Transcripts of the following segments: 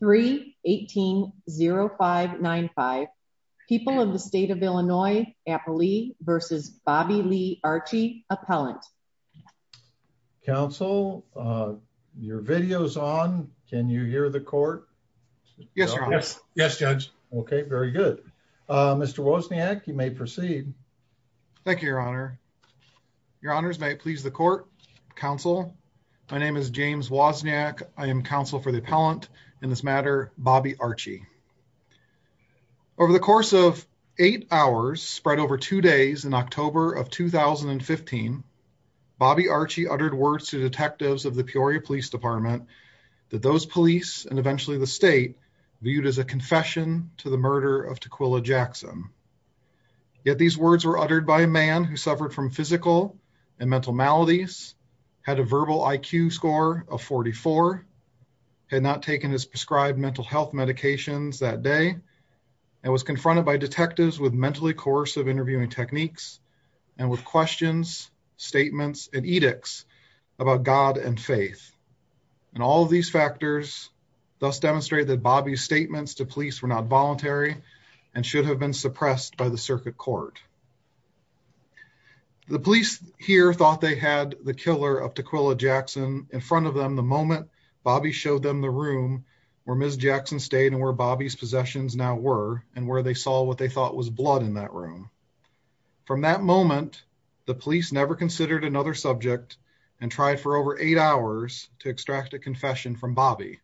3 180595 people of the state of Illinois Appley versus Bobby Lee Archie appellant counsel uh your video's on can you hear the court yes yes yes judge okay very good uh Mr. Wozniak you may proceed thank you your honor your honors may it please the court counsel my name is James Wozniak I am counsel for the appellant in this matter Bobby Archie over the course of eight hours spread over two days in October of 2015 Bobby Archie uttered words to detectives of the Peoria Police Department that those police and eventually the state viewed as a confession to the murder of Taquilla Jackson yet these words were uttered by a man who suffered from physical and mental maladies had a verbal IQ score of 44 had not taken his prescribed mental health medications that day and was confronted by detectives with mentally coercive interviewing techniques and with questions statements and edicts about God and faith and all of these factors thus demonstrated that Bobby's statements to police were not voluntary and should have been suppressed by the circuit court the police here thought they had the killer of Taquilla Jackson in front of them the moment Bobby showed them the room where Ms. Jackson stayed and where Bobby's possessions now were and where they saw what they thought was blood in that room from that moment the police never considered another subject and tried for over eight hours to extract a confession from Bobby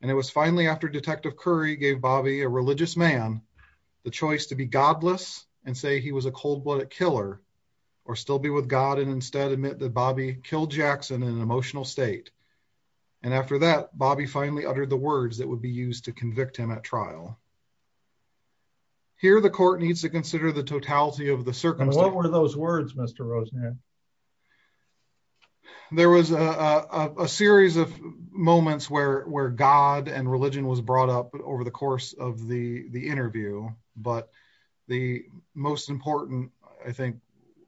and it was finally after Detective Curry gave Bobby a the choice to be godless and say he was a cold-blooded killer or still be with God and instead admit that Bobby killed Jackson in an emotional state and after that Bobby finally uttered the words that would be used to convict him at trial here the court needs to consider the totality of the circumstance what were those words Mr. Rosen there was a a series of moments where God and religion was brought up over the course of the the interview but the most important I think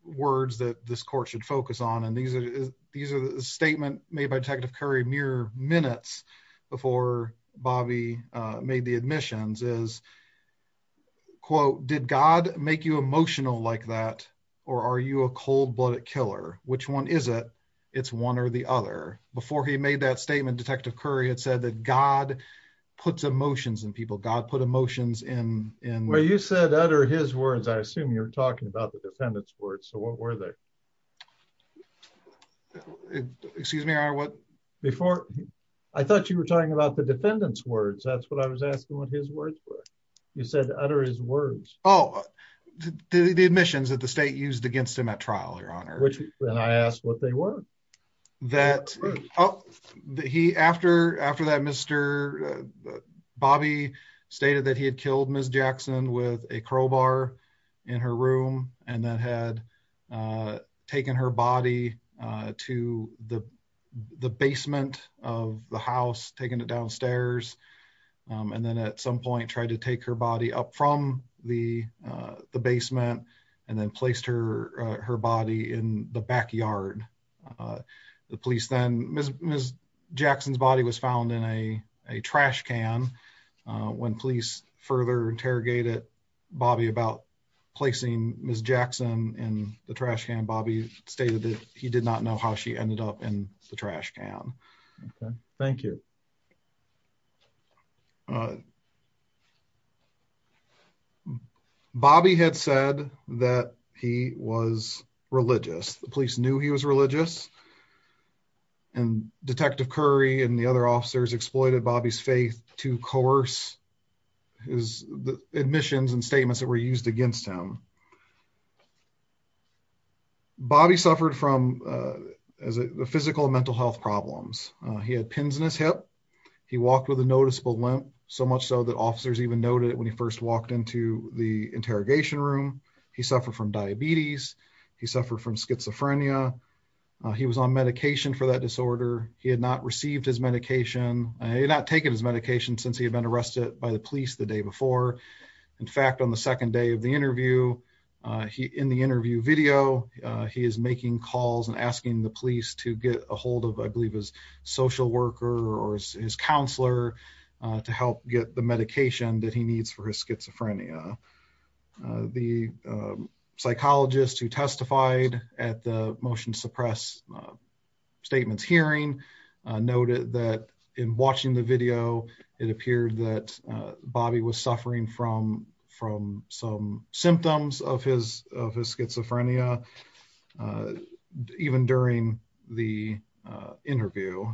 words that this court should focus on and these are these are the statement made by Detective Curry mere minutes before Bobby made the admissions is quote did God make you emotional like that or are you a cold-blooded killer which one is it it's one or the other before he made that statement Detective Curry had said that God puts emotions in people God put emotions in in where you said utter his words I assume you're talking about the defendant's words so what were they excuse me I what before I thought you were talking about the defendant's words that's what I was asking what his words were you said utter his words oh the the admissions that the state used against him at trial your honor which and I asked what they were that oh he after after that Mr. Bobby stated that he had killed Ms. Jackson with a crowbar in her room and that had uh taken her body uh to the the basement of the house taking it downstairs um and then at some point tried to take her body up from the uh the basement and then placed her her body in the backyard the police then Ms. Jackson's body was found in a a trash can when police further interrogated Bobby about placing Ms. Jackson in the trash can Bobby stated that he did not know how she ended up the trash can okay thank you Bobby had said that he was religious the police knew he was religious and Detective Curry and the other officers exploited Bobby's faith to coerce his the admissions and statements that were used against him Bobby suffered from uh as a physical and mental health problems he had pins in his hip he walked with a noticeable limp so much so that officers even noted when he first walked into the interrogation room he suffered from diabetes he suffered from schizophrenia he was on medication for that disorder he had not received his medication and he had not taken his medication since he had been arrested by the police the day before in fact on the second day of the interview he in the interview video he is making calls and asking the police to get a hold of I believe his social worker or his counselor to help get the medication that he needs for his schizophrenia the psychologist who testified at the motion suppress statements hearing noted that in watching the video it appeared that Bobby was suffering from from some symptoms of his of his schizophrenia even during the interview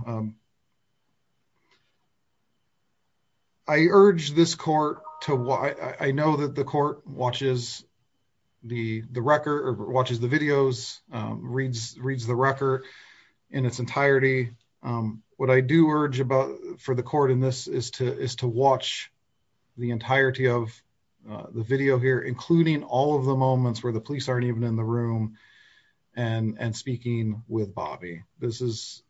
I urge this court to why I know that the court watches the the record or watches the videos reads reads the record in its entirety what I do urge about for the court in this is to is to watch the entirety of the video here including all of the moments where the police aren't even in the room and and speaking with Bobby this is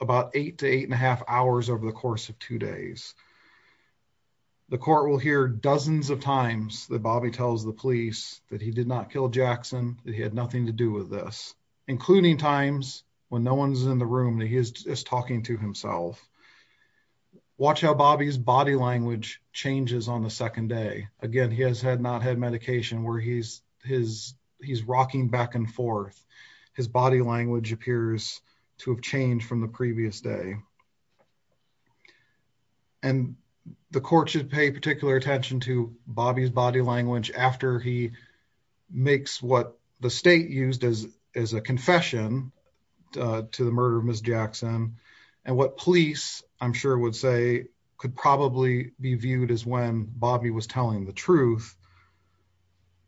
about eight to eight and a half hours over the course of two days the court will hear dozens of times that Bobby tells the police that he did not kill Jackson that he had nothing to do with this including times when no one's in the room that he is just talking to himself watch how Bobby's body language changes on the second day again he has had not had medication where he's his he's rocking back and forth his body language appears to have changed from the previous day and the court should pay particular attention to Bobby's body language after he makes what the state used as as a confession to the murder of Ms. Jackson and what police I'm sure would say could probably be viewed as when Bobby was telling the truth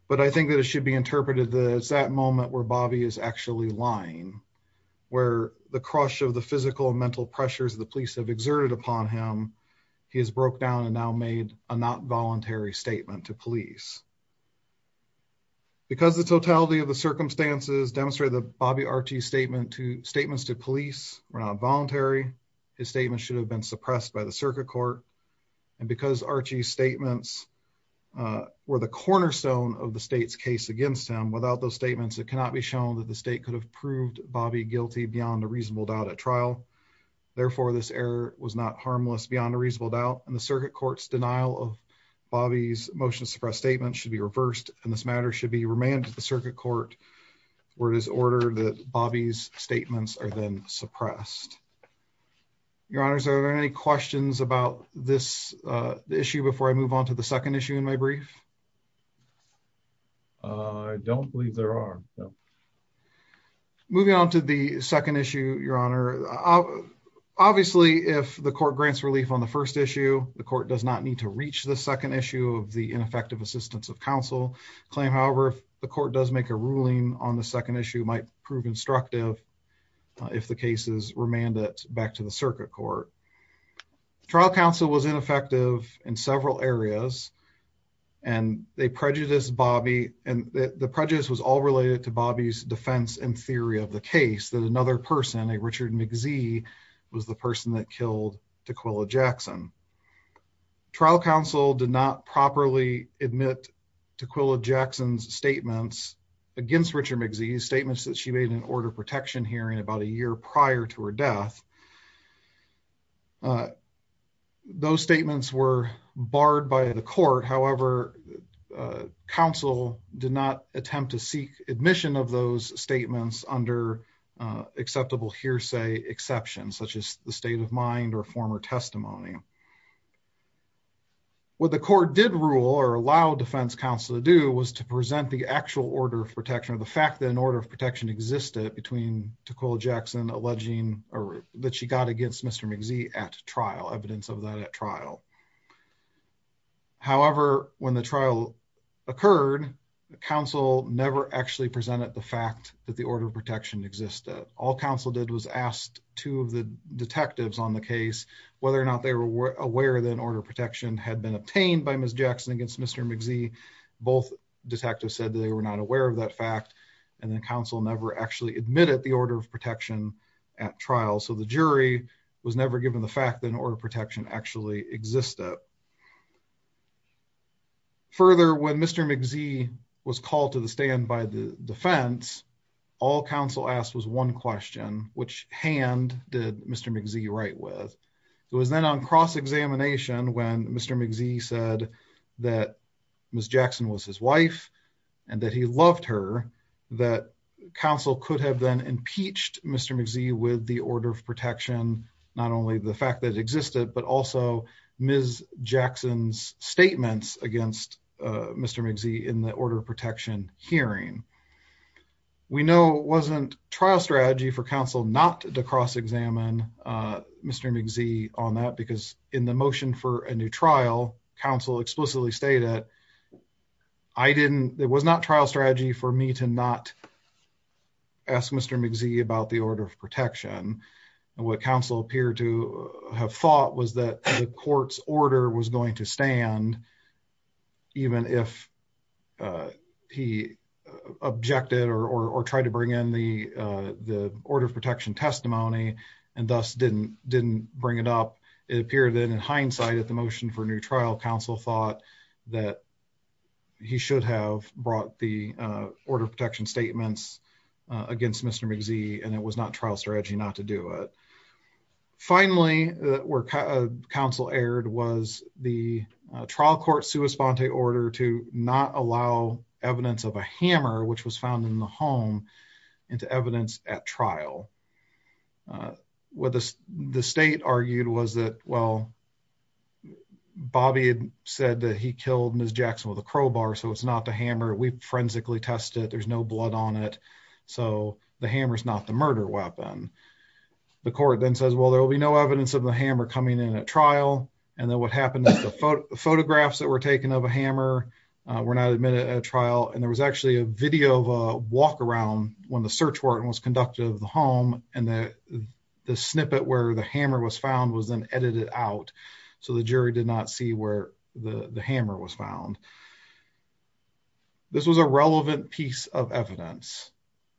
but I think that it should be interpreted that it's that moment where Bobby is actually lying where the crush of the physical and mental pressures the police have exerted upon him he has broke down and now made a not voluntary statement to police because the totality of the circumstances demonstrated that Bobby Archie's statement to statements to police were not voluntary his statement should have been suppressed by the circuit court and because Archie's statements were the cornerstone of the state's case against him without those statements it cannot be shown that the state could have proved Bobby guilty beyond a reasonable doubt and the circuit court's denial of Bobby's motion to suppress statements should be reversed and this matter should be remanded to the circuit court where it is ordered that Bobby's statements are then suppressed your honors are there any questions about this uh the issue before I move on to the second issue in my brief I don't believe there are no moving on to the first issue the court does not need to reach the second issue of the ineffective assistance of counsel claim however if the court does make a ruling on the second issue might prove instructive if the case is remanded back to the circuit court trial counsel was ineffective in several areas and they prejudiced Bobby and the prejudice was all related to Bobby's defense and theory of case that another person a Richard Mczee was the person that killed Taquilla Jackson trial counsel did not properly admit Taquilla Jackson's statements against Richard Mczee's statements that she made an order protection hearing about a year prior to her death those statements were barred by the court however uh counsel did not attempt to seek admission of those statements under acceptable hearsay exceptions such as the state of mind or former testimony what the court did rule or allow defense counsel to do was to present the actual order of protection of the fact that an order of protection existed between Taquilla Jackson alleging or that she got against Mr. Mczee at trial evidence of that at trial however when the trial occurred counsel never actually presented the fact that the order of protection existed all counsel did was asked two of the detectives on the case whether or not they were aware that an order of protection had been obtained by Ms. Jackson against Mr. Mczee both detectives said they were not aware of that fact and then counsel never actually admitted the order of protection at trial so the jury was never given the fact that an order of protection actually existed further when Mr. Mczee was called to the stand by the defense all counsel asked was one question which hand did Mr. Mczee write with it was then on cross-examination when Mr. Mczee said that Ms. Jackson was his wife and that he loved her that counsel could have then impeached Mr. Mczee with the order of protection not only the fact that existed but also Ms. Jackson's statements against Mr. Mczee in the order of protection hearing we know wasn't trial strategy for counsel not to cross-examine Mr. Mczee on that because in the motion for a new trial counsel explicitly stated I didn't it was not trial strategy for me to not ask Mr. Mczee about the order of protection and what counsel appeared to have thought was that the court's order was going to stand even if uh he objected or or tried to bring in the uh the order of protection testimony and thus didn't didn't bring it up it appeared that in hindsight at the motion for a new trial counsel thought that he should have brought the uh order of against Mr. Mczee and it was not trial strategy not to do it finally that were counsel aired was the trial court sua sponte order to not allow evidence of a hammer which was found in the home into evidence at trial uh what the the state argued was that well bobby had said that he killed Ms. Jackson with a crowbar so it's not the hammer we forensically test it there's no blood on it so the hammer is not the murder weapon the court then says well there will be no evidence of the hammer coming in at trial and then what happened is the photographs that were taken of a hammer were not admitted at a trial and there was actually a video of a walk around when the search warrant was conducted of the home and the the snippet where the hammer was found was then edited out so the jury did not see where the the hammer was found this was a relevant piece of evidence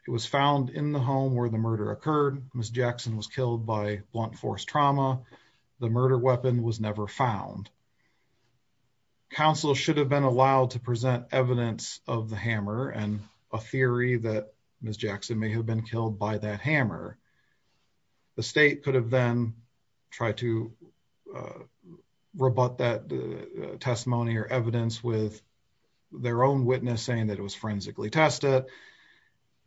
it was found in the home where the murder occurred Ms. Jackson was killed by blunt force trauma the murder weapon was never found counsel should have been allowed to present evidence of the hammer and a theory that Ms. Jackson may have been killed by that hammer the state could have then tried to rebut that testimony or evidence with their own witness saying that it was forensically tested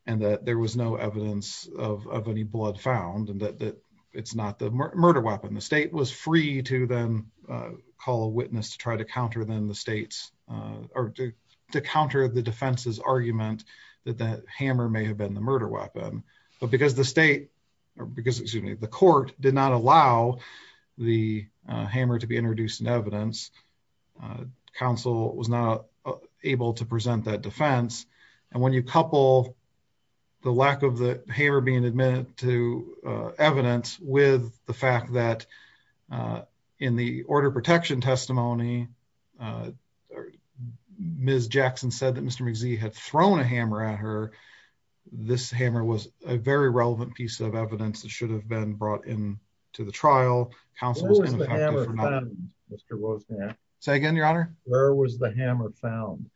and that there was no evidence of of any blood found and that that it's not the murder weapon the state was free to then call a witness to try to counter them the state's uh or to counter the defense's argument that that hammer may have been the murder weapon but because the state or because excuse me the court did not allow the hammer to be introduced in evidence counsel was not able to present that defense and when you couple the lack of the hammer being admitted to evidence with the fact that in the order protection testimony Ms. Jackson said that Mr. Mczee had thrown a hammer at her this hammer was a very relevant piece of evidence that should have been brought in to the trial counsel was say again your honor where was the hammer found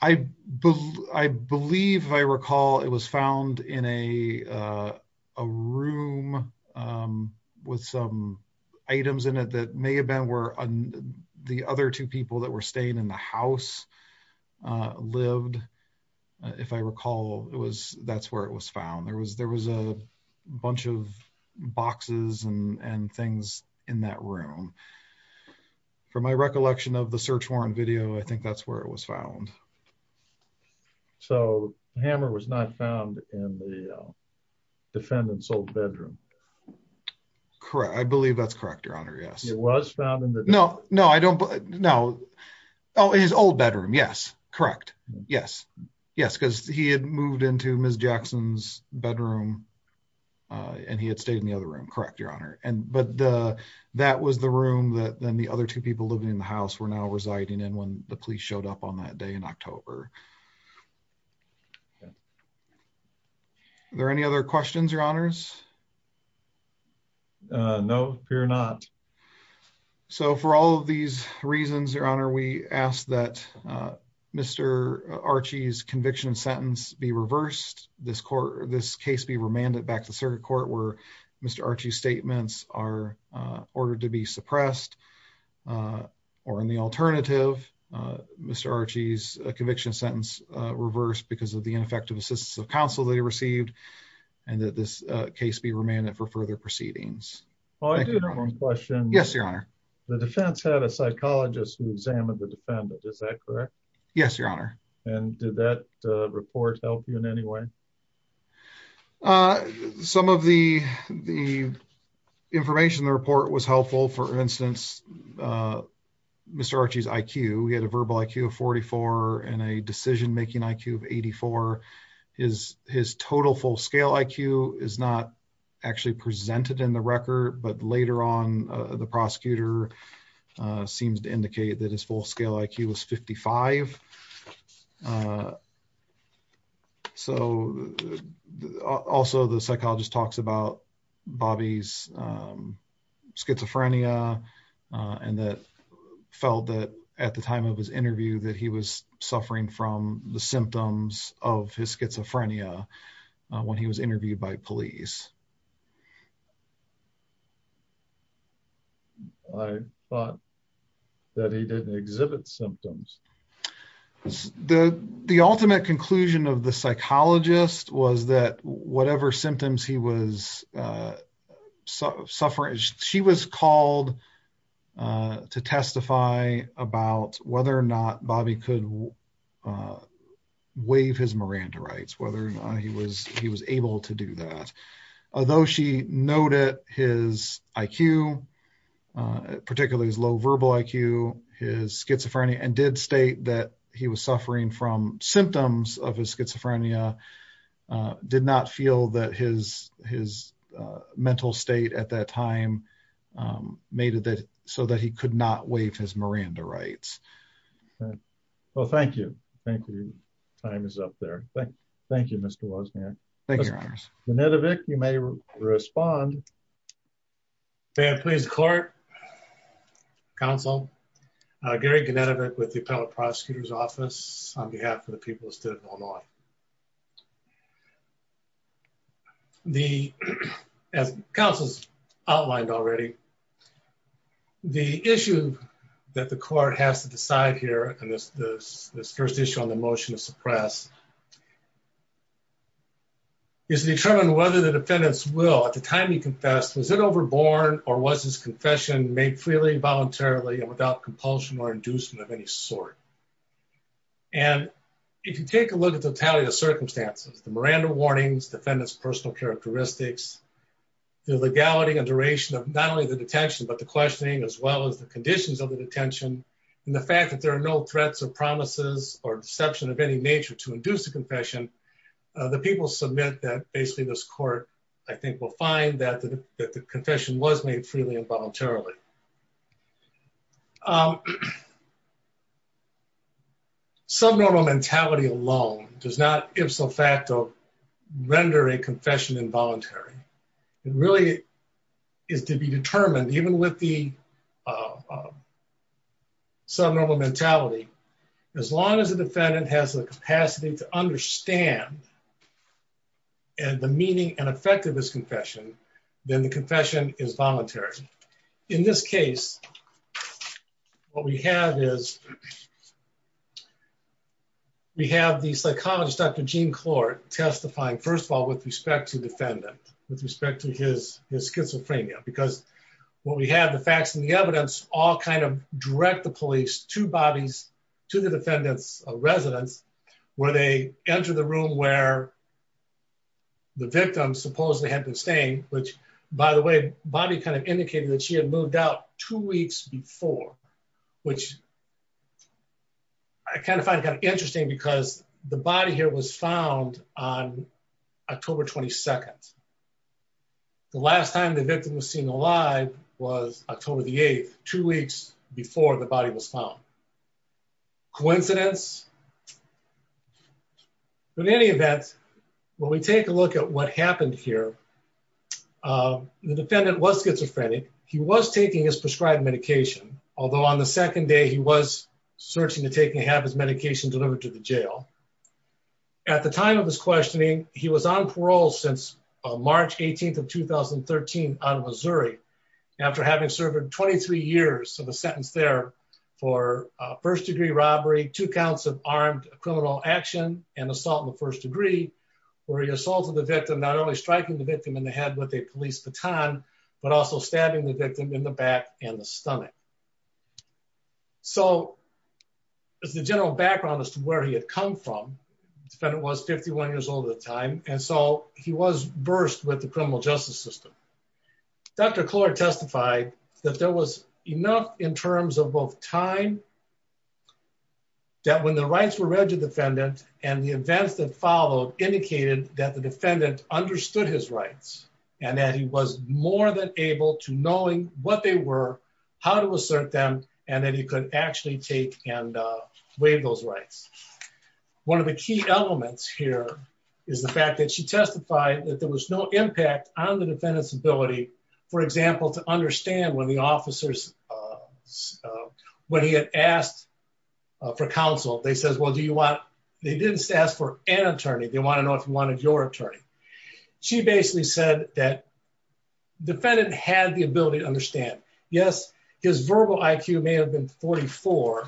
I believe I recall it was found in a room with some items in it that may have been where the other two people that were staying in the house lived if I recall it was that's where it was found there was there was a bunch of boxes and and things in that room for my recollection of the search warrant video I think that's where it was found so hammer was not found in the defendant's old bedroom correct I believe that's correct your honor yes it was found in the no no I don't know oh his old bedroom yes correct yes yes because he had moved into Ms. Jackson's bedroom and he had stayed in the other room correct your honor and but the that was the room that then the other two people living in the house were now residing in when the police showed up on that day in October okay are there any other questions your honors no appear not so for all of these reasons your honor we ask that Mr. Archie's conviction sentence be reversed this court this case be remanded back to circuit court where Mr. Archie's statements are ordered to be suppressed or in the alternative Mr. Archie's sentence reversed because of the ineffective assistance of counsel that he received and that this case be remanded for further proceedings oh I do have one question yes your honor the defense had a psychologist who examined the defendant is that correct yes your honor and did that report help you in any way some of the the information the report was helpful for instance Mr. Archie's IQ he had a verbal IQ of 44 and a decision-making IQ of 84 his his total full-scale IQ is not actually presented in the record but later on the prosecutor seems to indicate that his full-scale IQ was 55 so also the psychologist talks about Bobby's schizophrenia and that felt that at the time of his interview that he was suffering from the symptoms of his schizophrenia when he was interviewed by police I thought that he didn't exhibit symptoms the the ultimate conclusion of the psychologist was that whatever symptoms he was suffering she was called to testify about whether or not Bobby could waive his Miranda rights whether or not he was he was able to do that although she noted his IQ particularly his low verbal IQ his schizophrenia and did state that he was suffering from symptoms of his schizophrenia did not feel that his his mental state at that time made it that so that he could not waive his Miranda rights well thank you thank you time is up there thank thank you Mr. Wozniak thank you Mr. Genetovic you may respond may I please court counsel uh Gary Genetovic with the appellate prosecutor's office on behalf of the people of Illinois the as counsel's outlined already the issue that the court has to decide here and this this this first issue on the motion to suppress is to determine whether the defendant's will at the time he confessed was it overborn or was his confession made freely voluntarily and without compulsion or inducement of any sort and if you take a look at the totality of circumstances the Miranda warnings defendant's personal characteristics the legality and duration of not only the detention but the questioning as well as the conditions of the detention and the fact that there are no threats or promises or deception of any nature to induce the confession the people submit that basically this court I voluntarily um subnormal mentality alone does not ifso facto render a confession involuntary it really is to be determined even with the subnormal mentality as long as the defendant has the capacity to understand and the meaning and effect of this confession then the confession is voluntary in this case what we have is we have the psychologist dr gene clark testifying first of all with respect to defendant with respect to his his schizophrenia because what we have the facts and the evidence all kind of direct the police to bodies to the defendants of residence where they enter the room where the victim supposedly had been staying which by the way body kind of indicated that she had moved out two weeks before which I kind of find kind of interesting because the body here was found on october 22nd the last time the victim was seen alive was october the 8th two weeks before the when we take a look at what happened here the defendant was schizophrenic he was taking his prescribed medication although on the second day he was searching to take and have his medication delivered to the jail at the time of his questioning he was on parole since march 18th of 2013 out of missouri after having served 23 years of a sentence there for first degree robbery two counts of armed criminal action and assault in where he assaulted the victim not only striking the victim in the head with a police baton but also stabbing the victim in the back and the stomach so as the general background as to where he had come from the defendant was 51 years old at the time and so he was burst with the criminal justice system dr clark testified that there was enough in terms of both time that when the rights were read to the defendant and the events that followed indicated that the defendant understood his rights and that he was more than able to knowing what they were how to assert them and that he could actually take and waive those rights one of the key elements here is the fact that she testified that there was no impact on the defendant's ability for example to understand when the officers uh when he had asked for counsel they said well do you want they didn't ask for an attorney they want to know if you wanted your attorney she basically said that defendant had the ability to understand yes his verbal iq may have been 44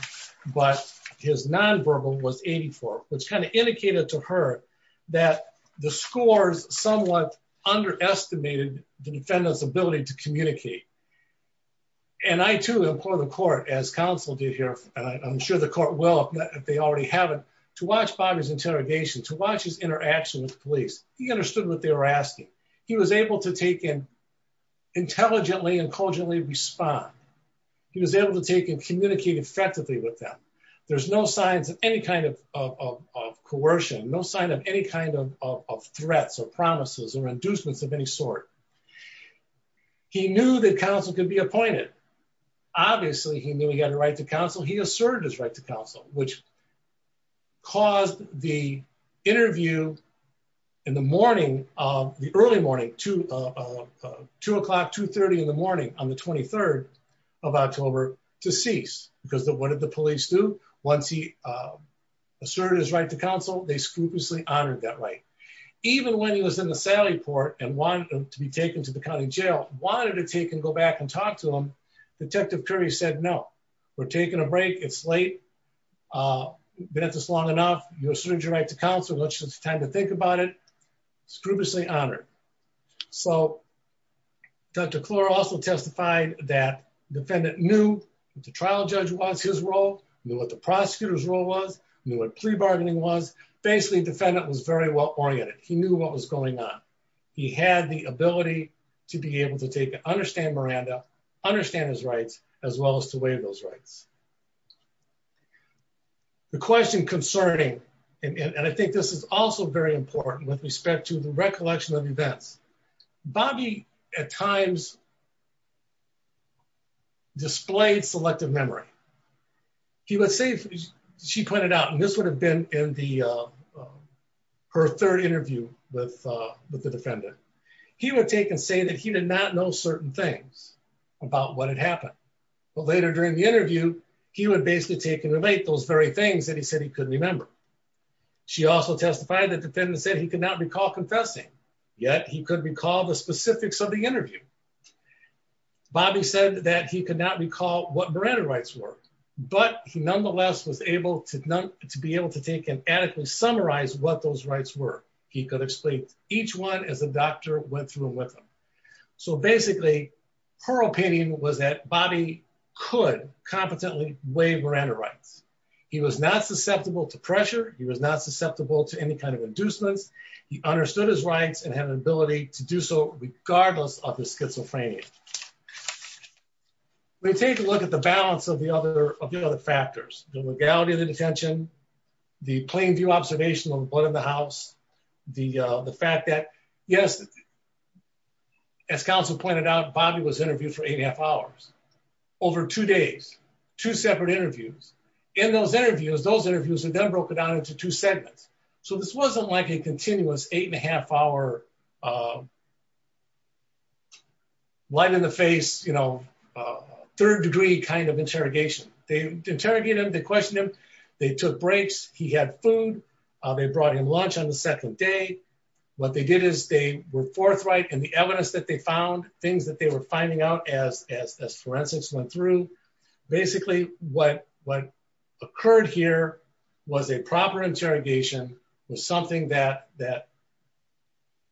but his non-verbal was 84 which kind of indicated to her that the scores somewhat underestimated the defendant's ability to communicate and i too implore the court as counsel did here and i'm sure the court will if they already haven't to watch bobby's interrogation to watch his interaction with the police he understood what they were asking he was able to take in intelligently and cogently respond he was able to take and communicate effectively with them there's no signs of any kind of of coercion no sign of any kind of of threats or promises or inducements of any sort he knew that counsel could be appointed obviously he knew he had a right to counsel he asserted his right to counsel which caused the interview in the morning of the early morning to two o'clock 2 30 in the morning on the 23rd of october to cease because what did the police do once he asserted his right to counsel they scrupulously honored that right even when he was in the sally port and wanted to be taken to the county jail wanted to take and go back and talk to him detective curry said no we're taking a break it's late uh been at this long enough you asserted your right to counsel it's time to think about it scrupulously honored so dr clore also testified that defendant knew the trial judge was his role knew what the prosecutor's role was knew what pre-bargaining was basically defendant was very well oriented he knew what was going on he had the ability to be able to take to understand miranda understand his rights as well as to waive those rights the question concerning and i think this is also very important with respect to the recollection of events bobby at times displayed selective memory he would say she pointed out and this would have been in the uh her third interview with uh with the defendant he would take and say that he did not know certain things about what had happened but later during the interview he would basically take and relate those very things that he said he couldn't remember she also testified that defendant said he could not recall confessing yet he could recall the specifics of the interview bobby said that he could not recall what miranda rights were but he nonetheless was able to to be able to take and adequately summarize what those rights were he could explain each one as the doctor went through with him so basically her opinion was that bobby could competently waive miranda rights he was not susceptible to pressure he was not susceptible to any kind of inducements he understood his rights and had an ability to do so the balance of the other of the other factors the legality of the detention the plain view observation of what in the house the uh the fact that yes as counsel pointed out bobby was interviewed for eight and a half hours over two days two separate interviews in those interviews those interviews are then broken down into two segments so this wasn't like a continuous eight and a half hour uh you know third degree kind of interrogation they interrogated him they questioned him they took breaks he had food uh they brought him lunch on the second day what they did is they were forthright and the evidence that they found things that they were finding out as as as forensics went through basically what what occurred here was a proper interrogation was something that that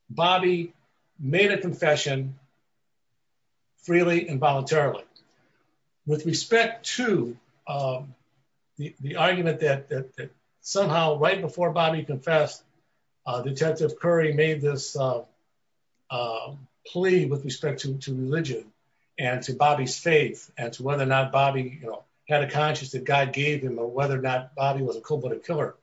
bobby made a confession freely and voluntarily with respect to um the argument that that somehow right before bobby confessed uh detective curry made this uh uh plea with respect to to religion and to bobby's faith and to whether or not bobby you know had a killer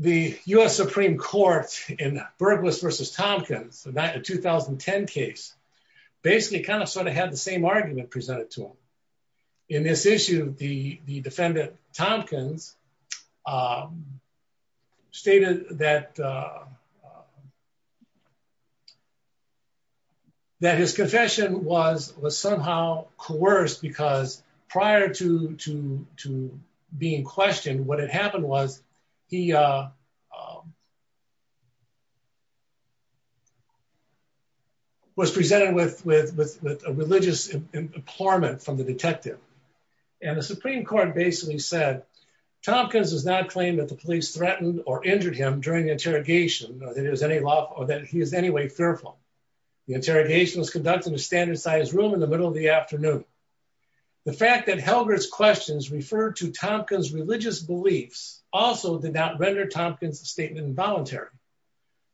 the u.s supreme court in burglars versus tompkins a 2010 case basically kind of sort of had the same argument presented to him in this issue the the defendant tompkins um stated that uh that his confession was was somehow coerced because prior to to to being questioned what it happened was he uh was presented with with with a religious implorement from the detective and the supreme court basically said tompkins does not claim that the police threatened or interrogation or that it was any law or that he is any way fearful the interrogation was conducted to stand inside his room in the middle of the afternoon the fact that helbert's questions referred to tompkins religious beliefs also did not render tompkins statement involuntary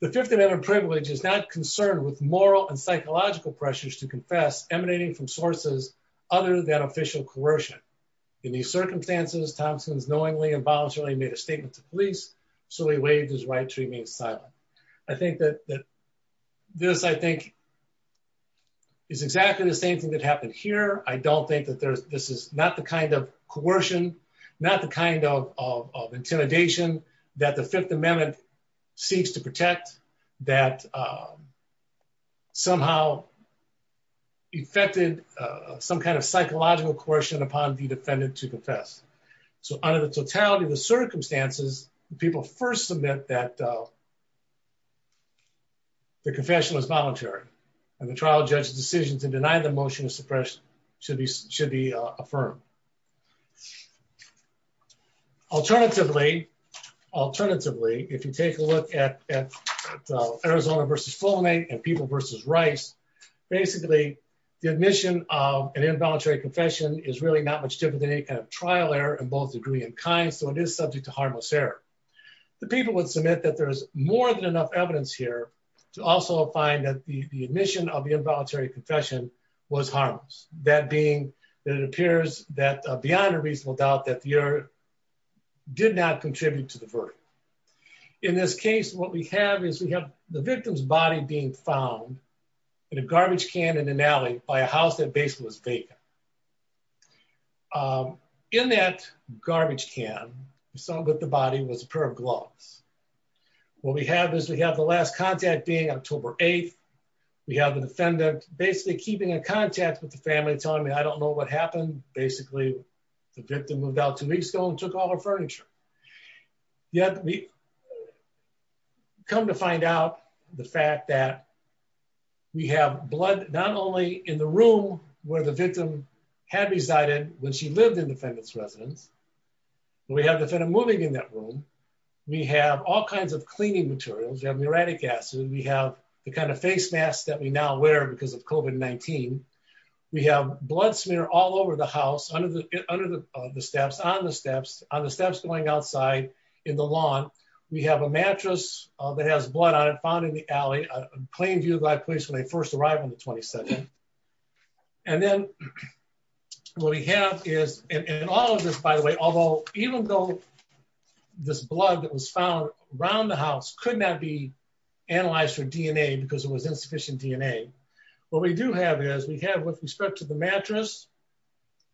the fifth amendment privilege is not concerned with moral and psychological pressures to confess emanating from sources other than official coercion in these circumstances thompson's silent i think that that this i think is exactly the same thing that happened here i don't think that there's this is not the kind of coercion not the kind of of intimidation that the fifth amendment seeks to protect that um somehow affected uh some kind of psychological coercion upon the defendant to confess so under the totality of the circumstances people first submit that uh the confession was voluntary and the trial judge's decisions in denying the motion of suppression should be should be uh affirmed alternatively alternatively if you take a look at arizona versus full name and people versus rice basically the admission of an involuntary confession is really not much different than any kind of trial error in both degree and kind so it is subject to harmless error the people would submit that there's more than enough evidence here to also find that the admission of the involuntary confession was harmless that being that it appears that beyond a reasonable doubt that the error did not contribute to the verdict in this case what we have is we have the victim's body being found in a garbage can in an alley by a house that basically was vacant um in that garbage can we saw that the body was a pair of gloves what we have is we have the last contact being october 8th we have the defendant basically keeping in contact with the family telling me i don't know what happened basically the victim moved out two weeks ago and took all her furniture yet we come to find out the fact that we have blood not only in the room where the victim had resided when she lived in defendant's residence we have defendant moving in that room we have all kinds of cleaning materials we have uranic acid we have the kind of face masks that we now wear because of covid 19 we have blood smear all over the house under the under the steps on the steps on the steps going outside in the lawn we have a mattress that has blood on it found the alley a plain view of that place when they first arrived on the 22nd and then what we have is in all of this by the way although even though this blood that was found around the house could not be analyzed for dna because it was insufficient dna what we do have is we have with respect to the mattress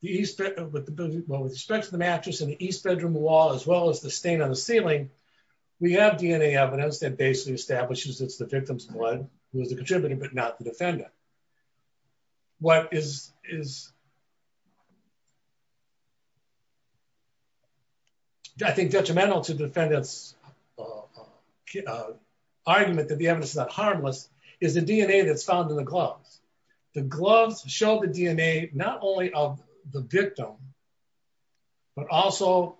the east with the respect to the mattress in the east bedroom wall as well as the stain on ceiling we have dna evidence that basically establishes it's the victim's blood who is the contributor but not the defendant what is is i think detrimental to defendants argument that the evidence is not harmless is the dna that's found in the gloves the gloves show the dna not only of the victim but also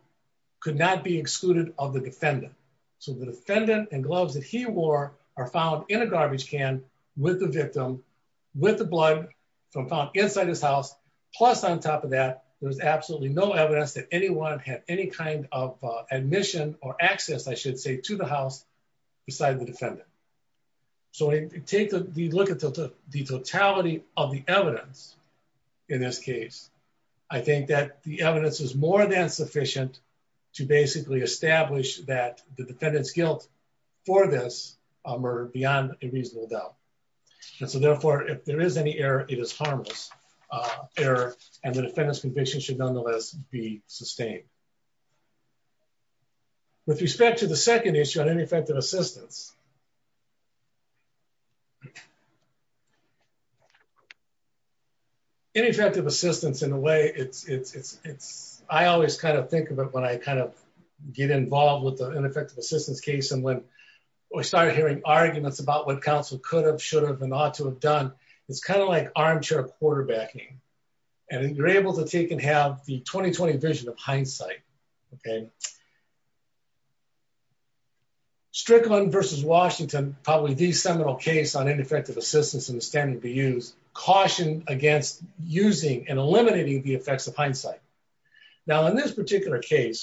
could not be excluded of the defendant so the defendant and gloves that he wore are found in a garbage can with the victim with the blood from found inside his house plus on top of that there's absolutely no evidence that anyone had any kind of admission or access i should say to the house beside the defendant so we take the look the totality of the evidence in this case i think that the evidence is more than sufficient to basically establish that the defendant's guilt for this um or beyond a reasonable doubt and so therefore if there is any error it is harmless error and the defendant's conviction should nonetheless be sustained with respect to the second issue on ineffective assistance ineffective assistance in a way it's it's it's it's i always kind of think of it when i kind of get involved with the ineffective assistance case and when we started hearing arguments about what counsel could have should have and ought to have done it's kind of like armchair quarterbacking and you're able to take and have the 2020 vision of hindsight okay so strickland versus washington probably the seminal case on ineffective assistance in the standard to use caution against using and eliminating the effects of hindsight now in this particular case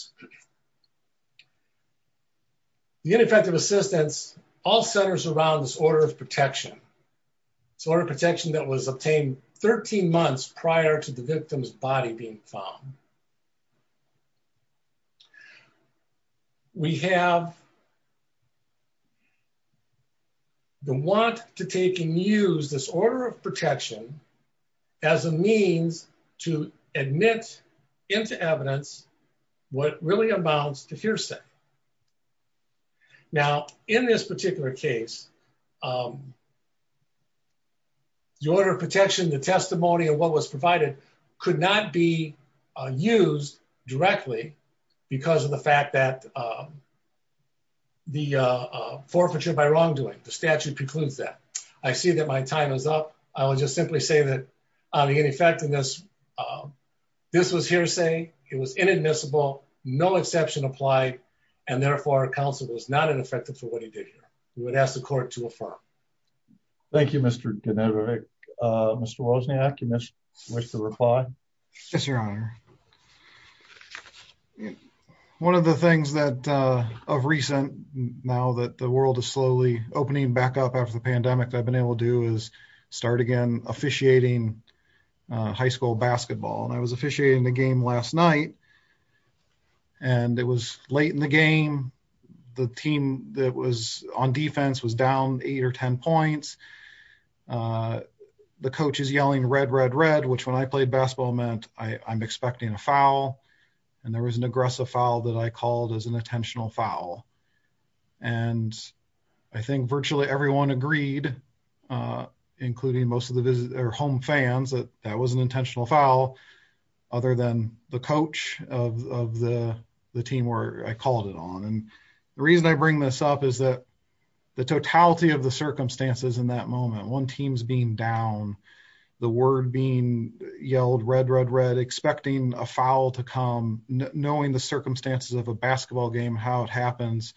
the ineffective assistance all centers around this order of protection it's order of protection that was obtained 13 months prior to the victim's body being found we have the want to take and use this order of protection as a means to admit into evidence what really amounts to hearsay now in this particular case um the order of protection the testimony of what was provided could not be used directly because of the fact that um the uh forfeiture by wrongdoing the statute precludes that i see that my time is up i will just simply say that on the ineffectiveness um this was hearsay it was inadmissible no exception applied and therefore counsel was not ineffective for what he did here we would ask the court to affirm thank you mr ganetic uh mr wozniak you must wish to reply yes your honor one of the things that uh of recent now that the world is slowly opening back up after the pandemic i've been able to do is start again officiating uh high school basketball and i was officiating the game last night and it was late in the game the team that was on defense was down eight or ten points uh the coach is yelling red red red which when i played basketball meant i i'm expecting a foul and there was an aggressive foul that i called as an intentional foul and i think virtually everyone agreed uh including most of the visit their home fans that that was an intentional foul other than the coach of of the the team where i called it on and the reason i bring this up is that the totality of the circumstances in that moment one team's being down the word being yelled red red red expecting a foul to come knowing the circumstances of a basketball game how it happens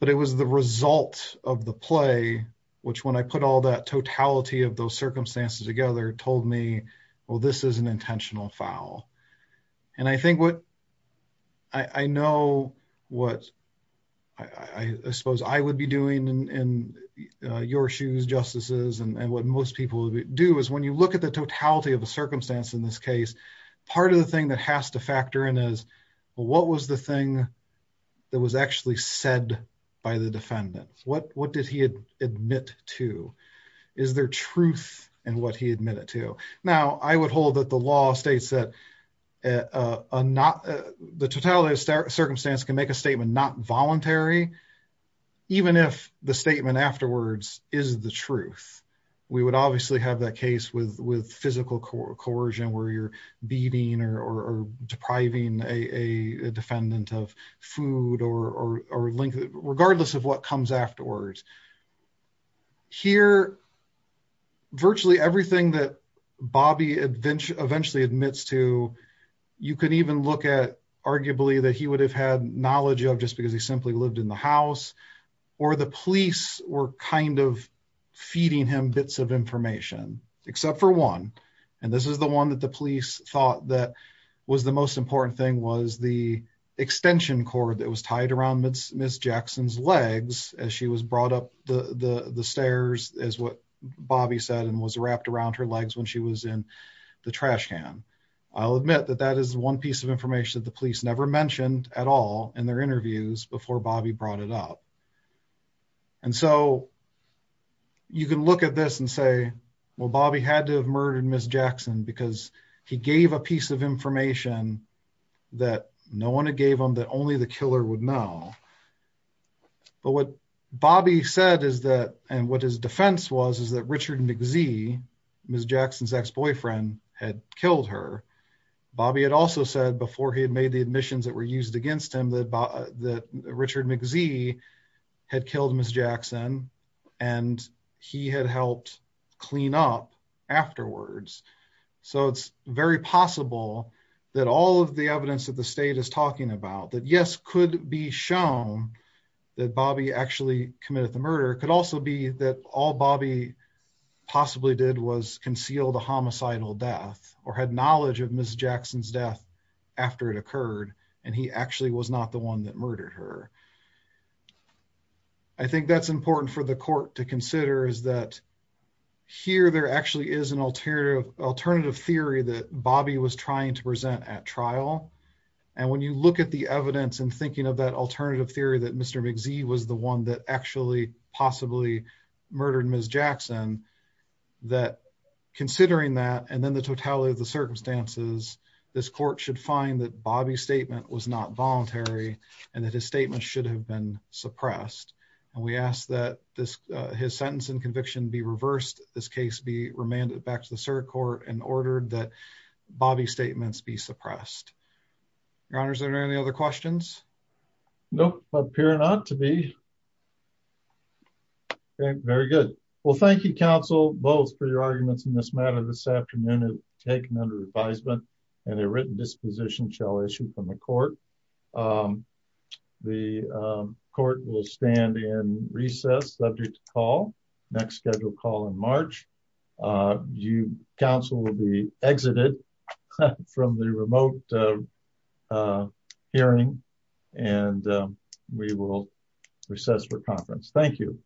but it was the result of the play which when i put all that totality of those circumstances together told me well this is an intentional foul and i think what i i know what i i suppose i would be doing in your shoes justices and what most people do is when you look at the totality of the circumstance in this case part of the thing that has to factor in is what was the thing that was actually said by the defendant what what did he admit to is there truth in what he admitted to now i would hold that the law states that uh not the totality of circumstance can make a statement not voluntary even if the statement afterwards is the truth we would obviously have that case with with physical coercion where you're beating or or depriving a a defendant of food or or or link regardless of what comes afterwards here virtually everything that bobby adventure eventually admits to you can even look at arguably that he would have had knowledge of just because he simply lived in the house or the police were kind of feeding him bits of information except for one and this is the one that the police thought that was the most important thing was the extension cord that was tied around miss jackson's legs as she was brought up the the the stairs as what bobby said and was wrapped around her legs when she was in the trash can i'll admit that that is one piece of information that the police never mentioned at all in their interviews before bobby brought it up and so you can look at this and say well bobby had to have murdered miss jackson because he gave a would know but what bobby said is that and what his defense was is that richard mczee miss jackson's ex-boyfriend had killed her bobby had also said before he had made the admissions that were used against him that that richard mczee had killed miss jackson and he had helped clean up afterwards so it's very possible that all of the evidence that the be shown that bobby actually committed the murder could also be that all bobby possibly did was concealed a homicidal death or had knowledge of miss jackson's death after it occurred and he actually was not the one that murdered her i think that's important for the court to consider is that here there actually is an alternative alternative theory that bobby was trying to present at trial and when you look at the evidence and thinking of that alternative theory that mr mczee was the one that actually possibly murdered miss jackson that considering that and then the totality of the circumstances this court should find that bobby's statement was not voluntary and that his statement should have been suppressed and we ask that this his sentence and conviction be reversed this case be remanded back to the circuit court and ordered that bobby's statements be suppressed your honors are there any other questions no appear not to be okay very good well thank you counsel both for your arguments in this matter this afternoon is taken under advisement and a written disposition shall issue from the court um the court will stand in recess subject to call next scheduled call in march uh you council will be exited from the remote uh hearing and we will recess for conference thank you